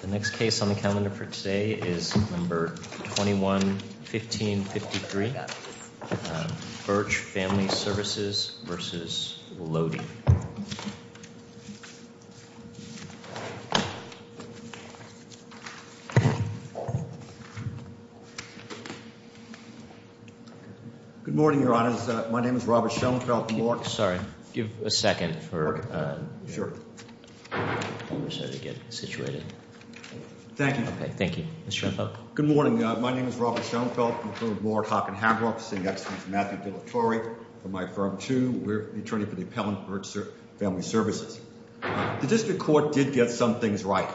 The next case on the calendar for today is number 21-1553. Birch Family Services v. Wlody. Good morning, Your Honors. My name is Robert Schoenfeldt-Moore. Sorry. Give a second for the conversation to get situated. Thank you. Thank you. Mr. Schoenfeldt. Good morning. My name is Robert Schoenfeldt-Moore, Hock and Hambrock, sitting next to me is Matthew Della Torre from my firm, too. We're the attorney for the appellant, Birch Family Services. The district court did get some things right.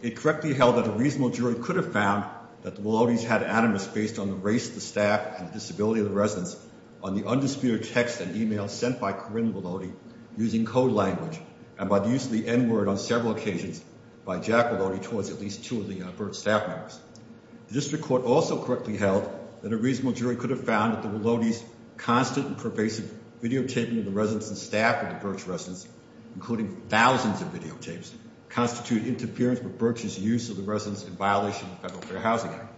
It correctly held that a reasonable jury could have found that the Wlody's had animus based on the race of the staff and the disability of the residents on the undisputed text and email sent by Corinne Wlody using code language and by the use of the n-word on several occasions by Jack Wlody. Towards at least two of the staff members. The district court also correctly held that a reasonable jury could have found that the Wlody's constant and pervasive videotaping of the residents and staff of the Birch residence, including thousands of videotapes, constitute interference with Birch's use of the residence in violation of the Federal Fair Housing Act.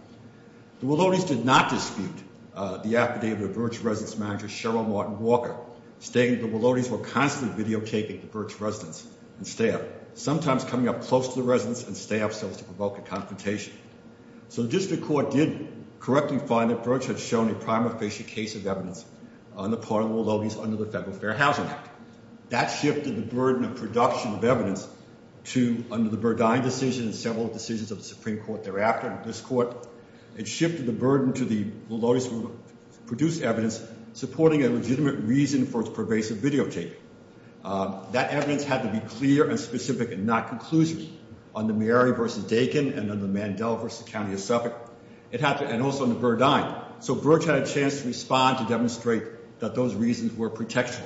The Wlody's did not dispute the affidavit of Birch's residence manager, Cheryl Martin Walker, stating that the Wlody's were constantly videotaping the Birch residence and staff, sometimes coming up close to the residence and staff cells to provoke a confrontation. So the district court did correctly find that Birch had shown a prima facie case of evidence on the part of the Wlody's under the Federal Fair Housing Act. That shifted the burden of production of evidence to under the Burdine decision and several decisions of the Supreme Court thereafter, this court, it shifted the burden to the Wlody's to produce evidence supporting a legitimate reason for its pervasive videotaping. That evidence had to be clear and specific and not conclusive on the Mary v. Dakin and on the Mandel v. County of Suffolk and also on the Burdine. So Birch had a chance to respond to demonstrate that those reasons were protection.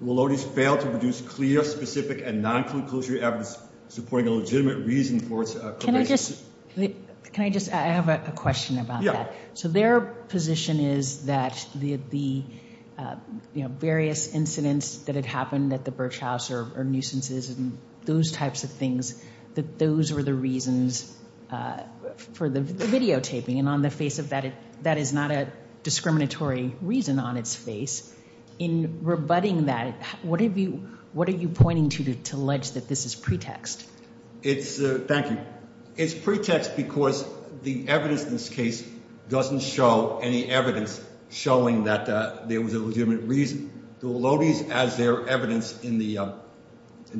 The Wlody's failed to produce clear, specific, and non-conclusive evidence supporting a legitimate reason for its pervasive videotaping. Can I just, can I just, I have a question about that. Yeah. So their position is that the, you know, various incidents that had happened at the Birch House or nuisances and those types of things, that those were the reasons for the videotaping. And on the face of that, that is not a discriminatory reason on its face. In rebutting that, what have you, what are you pointing to to allege that this is pretext? It's, thank you, it's pretext because the evidence in this case doesn't show any evidence showing that there was a legitimate reason. The Wlody's as their evidence in the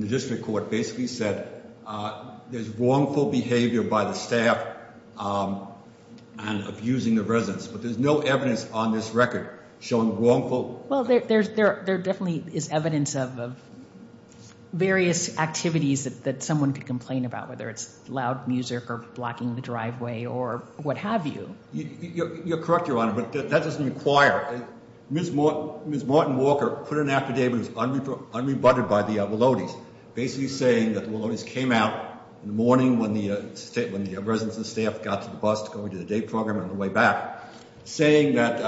district court basically said there's wrongful behavior by the staff and abusing the residents. But there's no evidence on this record showing wrongful. Well, there definitely is evidence of various activities that someone could complain about, whether it's loud music or blocking the driveway or what have you. You're correct, Your Honor, but that doesn't require. Ms. Martin Walker put an affidavit that was unrebutted by the Wlody's basically saying that the Wlody's came out in the morning when the residents and staff got to the bus to go into the day program on the way back, saying that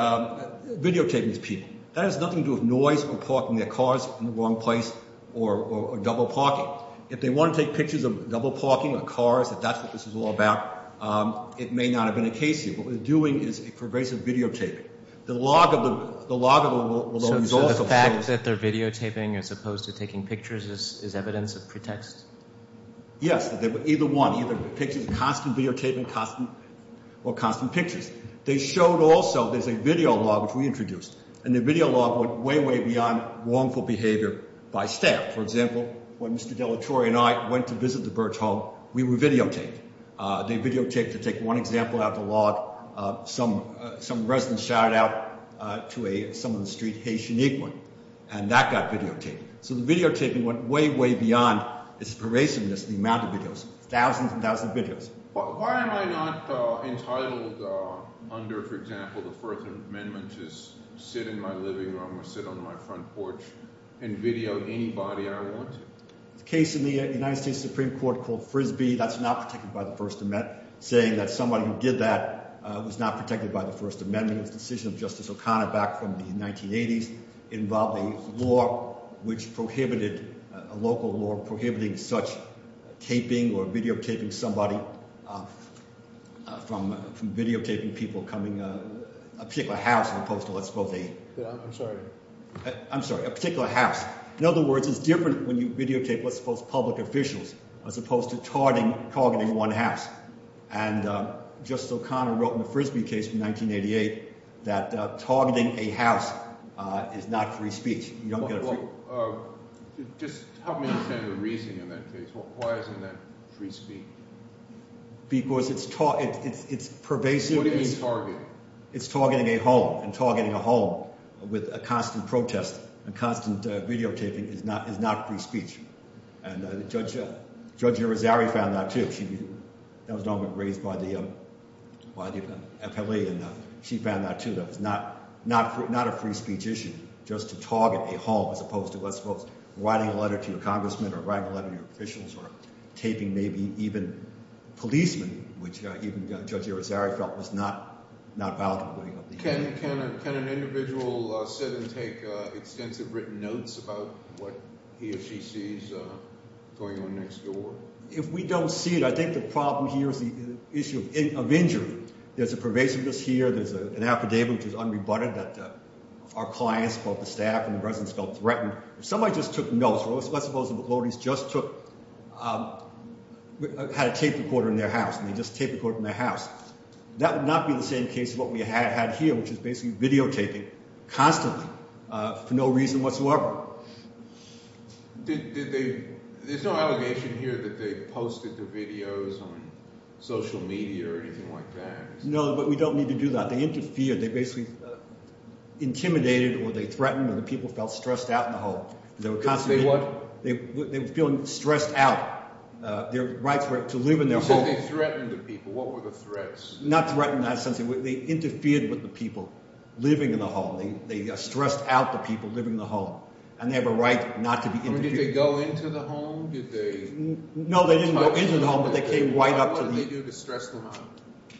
videotaping is people. That has nothing to do with noise or parking their cars in the wrong place or double parking. If they want to take pictures of double parking or cars, if that's what this is all about, it may not have been a case here. What we're doing is a pervasive videotaping. So the fact that they're videotaping as opposed to taking pictures is evidence of pretext? Yes, either one. Either constant videotaping or constant pictures. They showed also there's a video log, which we introduced, and the video log went way, way beyond wrongful behavior by staff. For example, when Mr. Dellatore and I went to visit the Birch Home, we were videotaped. They videotaped, to take one example out of the log, some resident shouted out to someone in the street, hey, she needs one. And that got videotaped. So the videotaping went way, way beyond its pervasiveness, the amount of videos. Thousands and thousands of videos. Why am I not entitled under, for example, the First Amendment to sit in my living room or sit on my front porch and video anybody I want to? There's a case in the United States Supreme Court called Frisbee that's not protected by the First Amendment, saying that somebody who did that was not protected by the First Amendment. It was a decision of Justice O'Connor back from the 1980s. It involved a law which prohibited, a local law prohibiting such taping or videotaping somebody, from videotaping people coming to a particular house as opposed to, let's call it a... I'm sorry. I'm sorry, a particular house. In other words, it's different when you videotape, let's suppose, public officials as opposed to targeting one house. And Justice O'Connor wrote in the Frisbee case from 1988 that targeting a house is not free speech. You don't get a free... Just help me understand the reason in that case. Why isn't that free speech? Because it's pervasive... What do you mean targeting? It's targeting a home. And targeting a home with a constant protest and constant videotaping is not free speech. And Judge Irizarry found that too. She was raised by the FLA, and she found that too, that it's not a free speech issue. Just to target a home as opposed to, let's suppose, writing a letter to your congressman or writing a letter to your officials or taping maybe even policemen, which even Judge Irizarry felt was not valid. Can an individual sit and take extensive written notes about what he or she sees going on next door? If we don't see it, I think the problem here is the issue of injury. There's a pervasiveness here. There's an affidavit which is unrebutted that our clients, both the staff and the residents felt threatened. If somebody just took notes, let's suppose the McClody's just took... and they just taped a quote from their house. That would not be the same case as what we had here, which is basically videotaping constantly for no reason whatsoever. There's no allegation here that they posted the videos on social media or anything like that? No, but we don't need to do that. They interfered. They basically intimidated or they threatened or the people felt stressed out in the home. They were constantly... They were feeling stressed out. Their rights were to live in their home. You said they threatened the people. What were the threats? Not threatened in that sense. They interfered with the people living in the home. They stressed out the people living in the home and they have a right not to be... Did they go into the home? No, they didn't go into the home, but they came right up to the... What did they do to stress them out?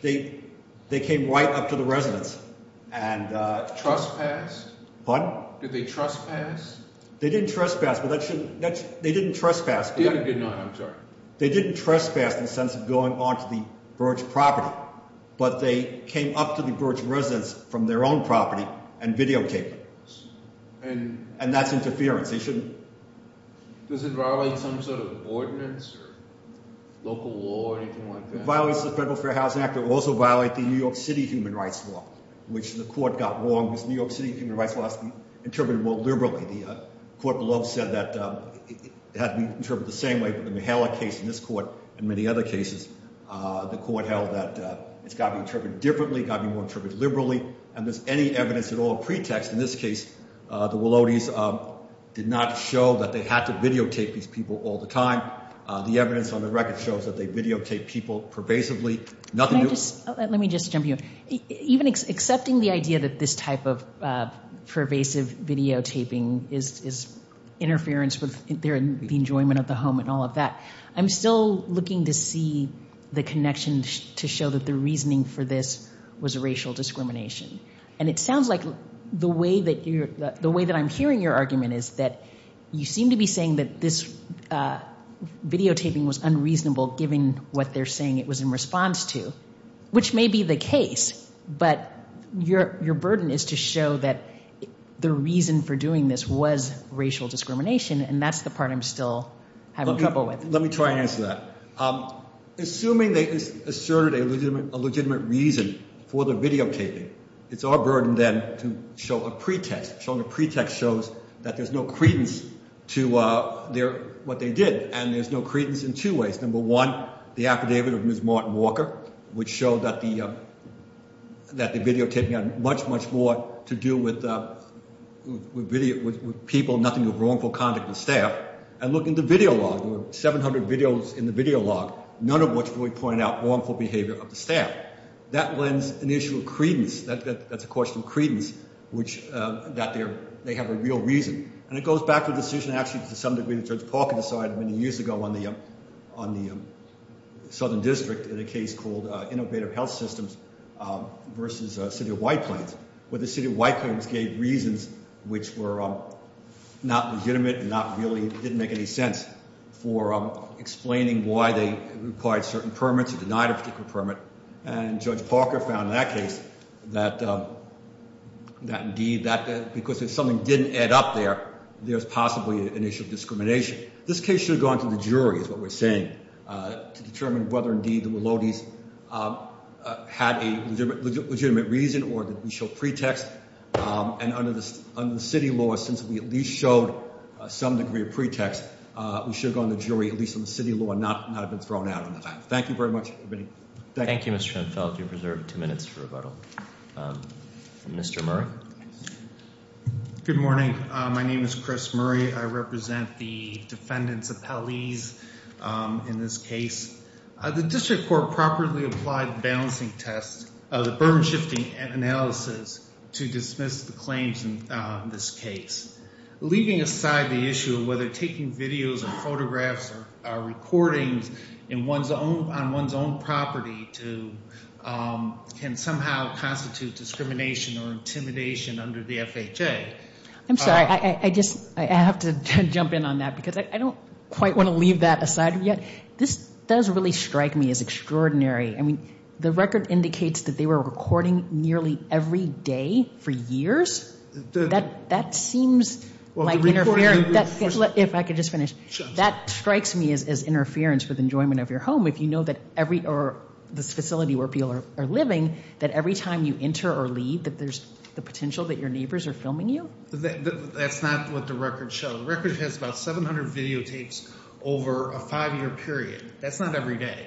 They came right up to the residents and... Trespassed? Pardon? Did they trespass? They didn't trespass, but that shouldn't... They didn't trespass, but... They had a good night. I'm sorry. They didn't trespass in the sense of going onto the Birch property, but they came up to the Birch residents from their own property and videotaped them. And... And that's interference. They shouldn't... Does it violate some sort of ordinance or local law or anything like that? It violates the Federal Fair Housing Act. It will also violate the New York City Human Rights Law, which the court got wrong because New York City Human Rights Law has to be interpreted more liberally. The court below said that it had to be interpreted the same way, but in the Mihela case and this court and many other cases, the court held that it's got to be interpreted differently, got to be more interpreted liberally. And there's any evidence at all pretext. In this case, the Willotes did not show that they had to videotape these people all the time. The evidence on the record shows that they videotaped people pervasively. Nothing... Let me just jump in. Even accepting the idea that this type of pervasive videotaping is interference with the enjoyment of the home and all of that, I'm still looking to see the connection to show that the reasoning for this was racial discrimination. And it sounds like the way that you're... The way that I'm hearing your argument is that you seem to be saying that this videotaping was unreasonable given what they're saying it was in response to, which may be the case, but your burden is to show that the reason for doing this was racial discrimination, and that's the part I'm still having trouble with. Let me try and answer that. Assuming they asserted a legitimate reason for the videotaping, it's our burden then to show a pretext. Showing a pretext shows that there's no credence to what they did, and there's no credence in two ways. Number one, the affidavit of Ms. Martin Walker, which showed that the videotaping had much, much more to do with people, nothing but wrongful conduct of staff. And look in the video log. There were 700 videos in the video log, none of which really pointed out wrongful behavior of the staff. That lends an issue of credence. That's a question of credence, which... That they have a real reason. And it goes back to a decision actually to some degree that Judge Parker decided many years ago on the Southern District in a case called Innovative Health Systems versus City of White Plains, where the City of White Plains gave reasons which were not legitimate and not really... Didn't make any sense for explaining why they required certain permits or denied a particular permit. And Judge Parker found in that case that indeed that... Because if something didn't add up there, there's possibly an issue of discrimination. This case should have gone to the jury, is what we're saying, to determine whether indeed the Melodies had a legitimate reason or that we showed pretext. And under the city law, since we at least showed some degree of pretext, we should have gone to the jury, at least on the city law, and not have been thrown out on the fact. Thank you very much, everybody. Thank you. Thank you, Mr. Schoenfeld. You're preserved two minutes for rebuttal. Mr. Murray? Good morning. My name is Chris Murray. I represent the defendants' appellees in this case. The district court properly applied the balancing test, the burden-shifting analysis, to dismiss the claims in this case. Leaving aside the issue of whether taking videos or photographs or recordings on one's own property can somehow constitute discrimination or intimidation under the FHA... I'm sorry. I just, I have to jump in on that because I don't quite want to leave that aside yet. This does really strike me as extraordinary. I mean, the record indicates that they were recording nearly every day for years. That seems like interference. If I could just finish. That strikes me as interference with enjoyment of your home if you know that every, or this facility where people are living, that every time you enter or leave, that there's the potential that your neighbors are filming you? That's not what the record shows. The record has about 700 videotapes over a five-year period. That's not every day.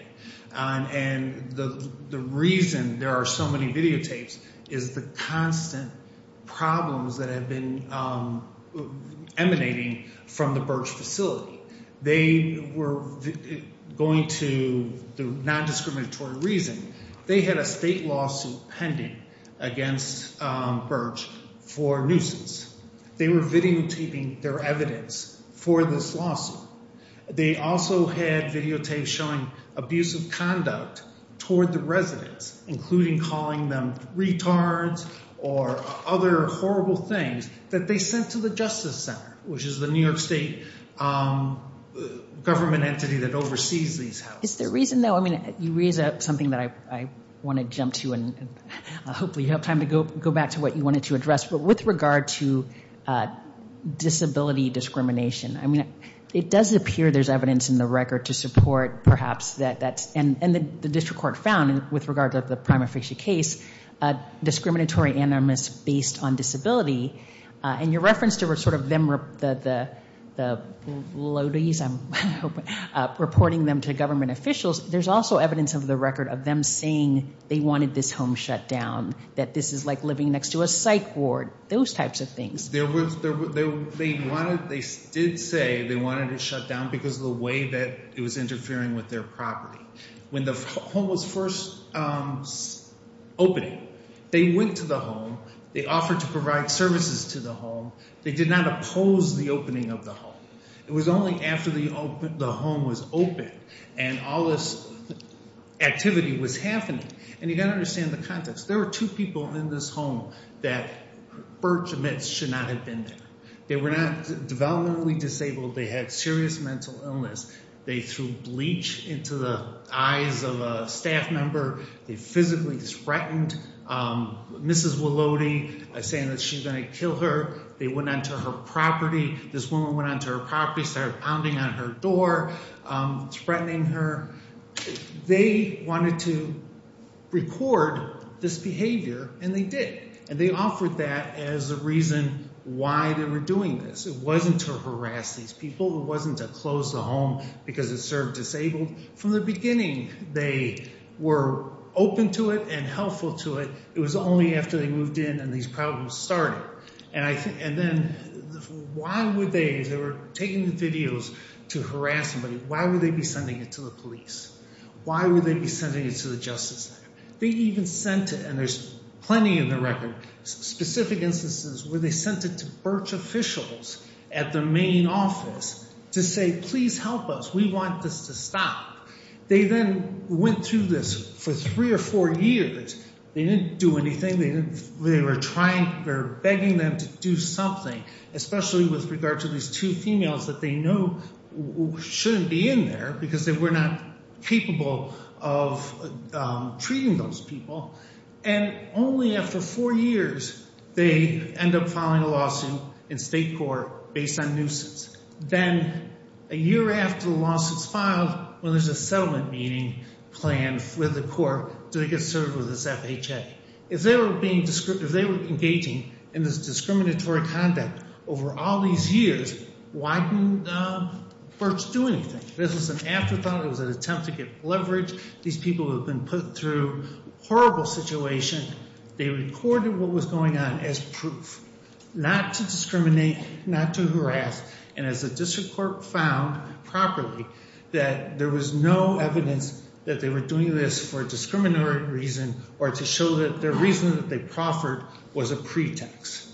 And the reason there are so many videotapes is the constant problems that have been emanating from the Birch facility. They were going to, the non-discriminatory reason, they had a state lawsuit pending against Birch for nuisance. They were videotaping their evidence for this lawsuit. They also had videotapes showing abusive conduct toward the residents, including calling them retards or other horrible things that they sent to the Justice Center, which is the New York State government entity that oversees these houses. Is there a reason, though? I mean, you raise something that I want to jump to, and hopefully you have time to go back to what you wanted to address. But with regard to disability discrimination, I mean, it does appear there's evidence in the record to support, perhaps, that that's, and the district court found, with regard to the prima facie case, discriminatory animus based on disability. And your reference to sort of them, the lodies, I'm hoping, reporting them to government officials, there's also evidence in the record of them saying they wanted this home shut down, that this is like living next to a psych ward, those types of things. There was, they wanted, they did say they wanted it shut down because of the way that it was interfering with their property. When the home was first opened, they went to the home. They offered to provide services to the home. They did not oppose the opening of the home. It was only after the home was open and all this activity was happening, and you've got to understand the context. There were two people in this home that Birch admits should not have been there. They were not developmentally disabled. They had serious mental illness. They threw bleach into the eyes of a staff member. They physically threatened. Mrs. Walody saying that she's going to kill her. They went onto her property. This woman went onto her property, started pounding on her door, threatening her. They wanted to record this behavior, and they did. And they offered that as a reason why they were doing this. It wasn't to harass these people. It wasn't to close the home because it served disabled. From the beginning, they were open to it and helpful to it. It was only after they moved in and these problems started. And then why would they, if they were taking the videos to harass somebody, why would they be sending it to the police? Why would they be sending it to the Justice Center? They even sent it, and there's plenty in the record, specific instances where they sent it to Birch officials at the main office to say, please help us. We want this to stop. They then went through this for three or four years. They didn't do anything. They were begging them to do something, especially with regard to these two females that they know shouldn't be in there because they were not capable of treating those people. And only after four years, they end up filing a lawsuit in state court based on nuisance. Then a year after the lawsuit's filed, when there's a settlement meeting planned with the court, they get served with this FHA. If they were engaging in this discriminatory conduct over all these years, why didn't Birch do anything? This was an afterthought. It was an attempt to get leverage. These people had been put through a horrible situation. They recorded what was going on as proof, not to discriminate, not to harass. And as the district court found properly, that there was no evidence that they were doing this for a discriminatory reason or to show that the reason that they proffered was a pretext.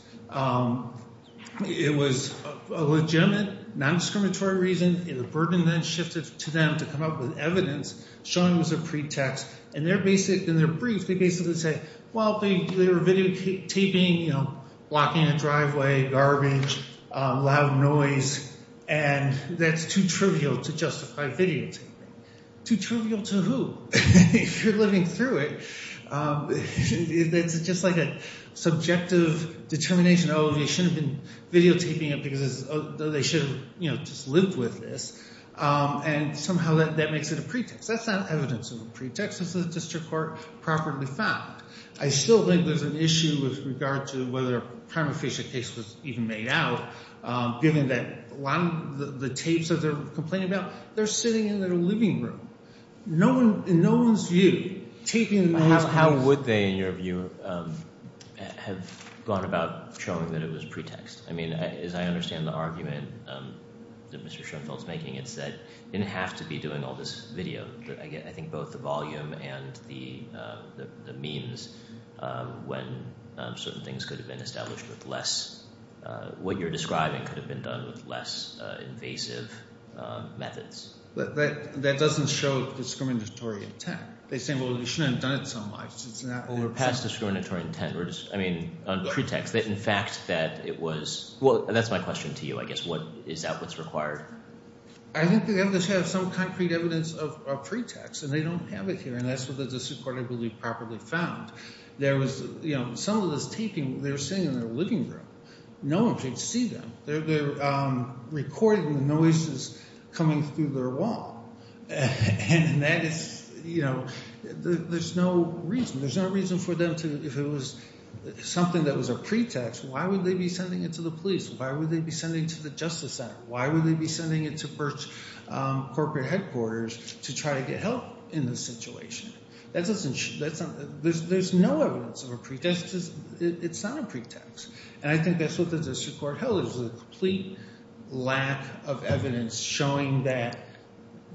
It was a legitimate, non-discriminatory reason. The burden then shifted to them to come up with evidence showing it was a pretext. In their brief, they basically say, well, they were videotaping, blocking a driveway, garbage, loud noise, and that's too trivial to justify videotaping. Too trivial to who? If you're living through it, it's just like a subjective determination, oh, they shouldn't have been videotaping it because they should have just lived with this. And somehow that makes it a pretext. That's not evidence of a pretext, as the district court properly found. I still think there's an issue with regard to whether a prima facie case was even made out, given that a lot of the tapes that they're complaining about, they're sitting in their living room. In no one's view. How would they, in your view, have gone about showing that it was pretext? I mean, as I understand the argument that Mr. Schoenfeld's making, it's that they didn't have to be doing all this video. I think both the volume and the memes, when certain things could have been established with less, what you're describing could have been done with less invasive methods. But that doesn't show discriminatory intent. They say, well, you shouldn't have done it so much. It's not overpriced. We're past discriminatory intent. We're just, I mean, on pretext. In fact, that it was, well, that's my question to you, I guess. Is that what's required? I think they have to have some concrete evidence of pretext. And they don't have it here. And that's where the disreportability properly found. There was, you know, some of this taping, they were sitting in their living room. No one could see them. They were recording the noises coming through their wall. And that is, you know, there's no reason. There's no reason for them to, if it was something that was a pretext, why would they be sending it to the police? Why would they be sending it to the justice center? Why would they be sending it to first corporate headquarters to try to get help in this situation? There's no evidence of a pretext. It's not a pretext. And I think that's what the disreport held is a complete lack of evidence showing that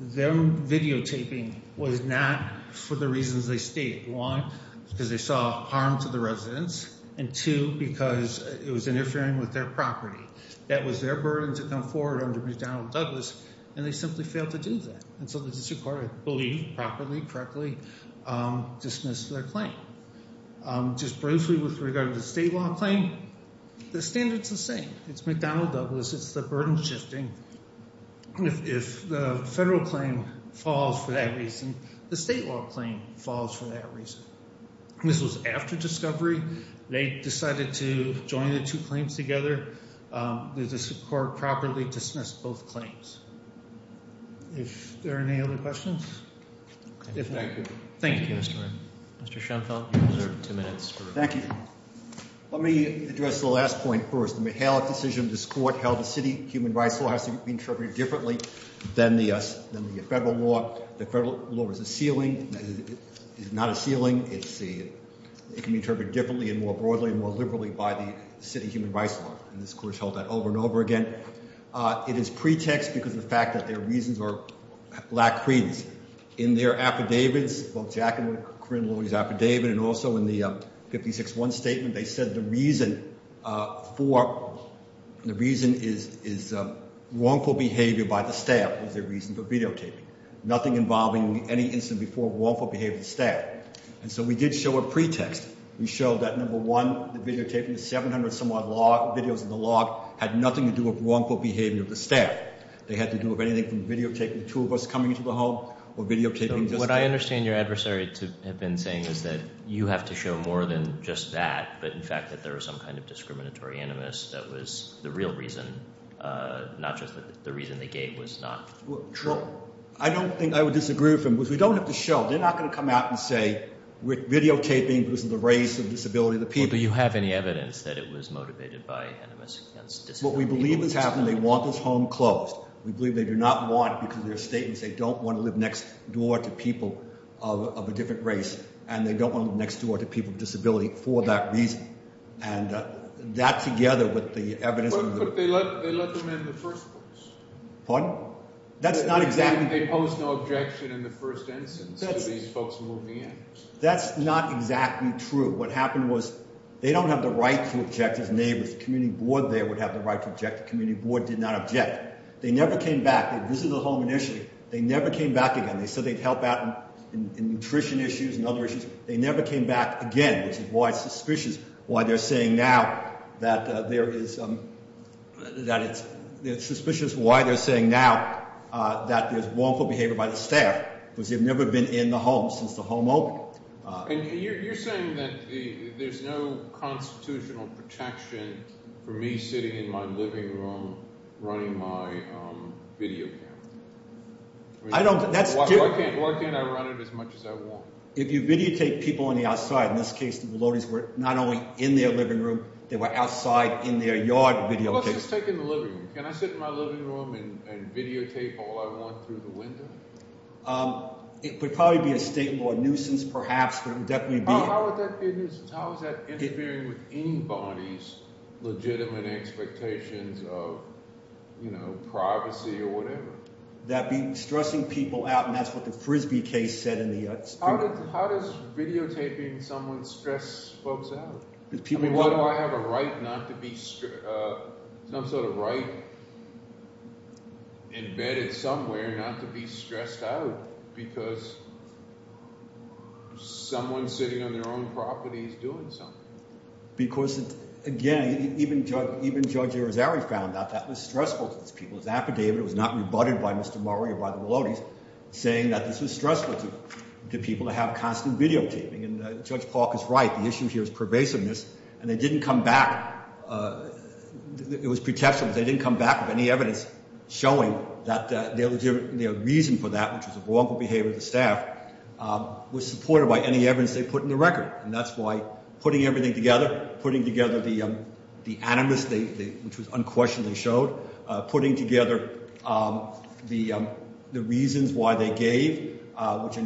their videotaping was not for the reasons they stated. One, because they saw harm to the residents. And two, because it was interfering with their property. That was their burden to come forward under McDonnell Douglas. And they simply failed to do that. And so the disreport believed properly, correctly dismissed their claim. Just briefly with regard to the state law claim, the standard's the same. It's McDonnell Douglas. It's the burden shifting. If the federal claim falls for that reason, the state law claim falls for that reason. This was after discovery. They decided to join the two claims together. The court properly dismissed both claims. If there are any other questions? If not, good. Thank you, Mr. Wright. Mr. Schenfeld, you have two minutes. Thank you. Let me address the last point first. The McHale decision, the disreport held the city human rights law has to be interpreted differently than the federal law. The federal law is a ceiling. It's not a ceiling. It can be interpreted differently and more broadly and more liberally by the city human rights law. And this court has held that over and over again. It is pretext because of the fact that their reasons lack credence. In their affidavits, both Jack and Corinne Lowy's affidavit and also in the 56-1 statement, they said the reason is wrongful behavior by the staff was their reason for videotaping. Nothing involving any incident before wrongful behavior of the staff. And so we did show a pretext. We showed that, number one, the videotaping of 700-some-odd videos in the log had nothing to do with wrongful behavior of the staff. They had to do with anything from videotaping two of us coming into the home or videotaping just that. What I understand your adversary had been saying is that you have to show more than just that, but in fact that there was some kind of discriminatory animus that was the real reason, not just the reason they gave was not true. Well, I don't think I would disagree with him. We don't have to show. They're not going to come out and say videotaping was the race or disability of the people. Do you have any evidence that it was motivated by animus against disability? What we believe is happening, they want this home closed. We believe they do not want it because their statements say they don't want to live next door to people of a different race and they don't want to live next door to people with disability for that reason. And that together with the evidence... But they let them in the first place. Pardon? That's not exactly... They posed no objection in the first instance to these folks moving in. That's not exactly true. What happened was they don't have the right to object as neighbors. The community board there would have the right to object. The community board did not object. They never came back. They visited the home initially. They never came back again. They said they'd help out in nutrition issues and other issues. They never came back again, which is why it's suspicious, why they're saying now that there is... It's suspicious why they're saying now that there's wrongful behavior by the staff because they've never been in the home since the home opened. And you're saying that there's no constitutional protection for me sitting in my living room running my video camera? I don't... Why can't I run it as much as I want? If you videotape people on the outside, in this case, the Maloney's were not only in their living room, they were outside in their yard videotaping. Well, let's just take in the living room. Can I sit in my living room and videotape all I want through the window? It would probably be a state law nuisance, perhaps, but it would definitely be... How would that be a nuisance? How is that interfering with anybody's legitimate expectations of privacy or whatever? That'd be stressing people out, and that's what the Frisbee case said in the... How does videotaping someone stress folks out? I mean, why do I have a right not to be... Some sort of right embedded somewhere not to be stressed out because someone sitting on their own property is doing something? Because, again, even Judge Rosari found out that was stressful to these people. His affidavit was not rebutted by Mr. Murray or by the Maloney's saying that this was stressful to people to have constant videotaping. And Judge Park is right. The issue here is pervasiveness, and they didn't come back. It was pretentious, but they didn't come back with any evidence showing that their reason for that, which was a wrongful behavior of the staff, was supported by any evidence they put in the record. And that's why putting everything together, putting together the animus, which was unquestionably showed, putting together the reasons why they gave, which do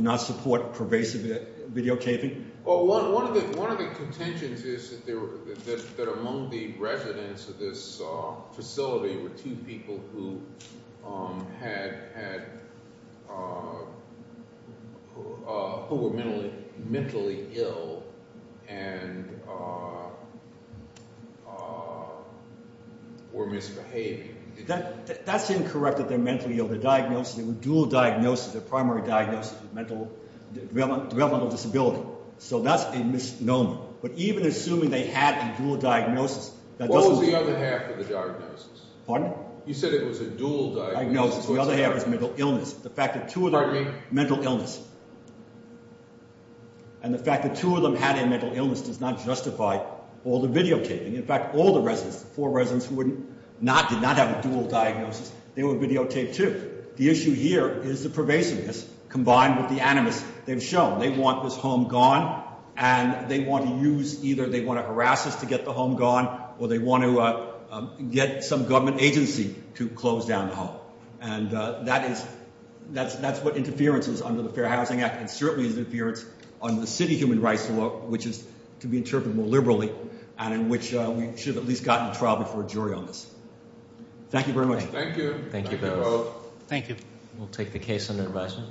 not support pervasive videotaping. One of the contentions is that among the residents of this facility were two people who were mentally ill and were misbehaving. That's incorrect that they're mentally ill. Their diagnosis, their dual diagnosis, their primary diagnosis was developmental disability. So that's a misnomer. But even assuming they had a dual diagnosis, that doesn't... The other half of the diagnosis. Pardon? You said it was a dual diagnosis. The other half is mental illness. The fact that two of them... Pardon me? Mental illness. And the fact that two of them had a mental illness does not justify all the videotaping. In fact, all the residents, the four residents who did not have a dual diagnosis, they were videotaped too. The issue here is the pervasiveness combined with the animus they've shown. They want this home gone, and they want to use either they want to harass us to get the home gone, or they want to get some government agency to close down the home. And that's what interference is under the Fair Housing Act, and certainly is interference under the City Human Rights Law, which is to be interpreted more liberally, and in which we should have at least gotten a trial before a jury on this. Thank you very much. Thank you. Thank you both. Thank you. We'll take the case under advisement.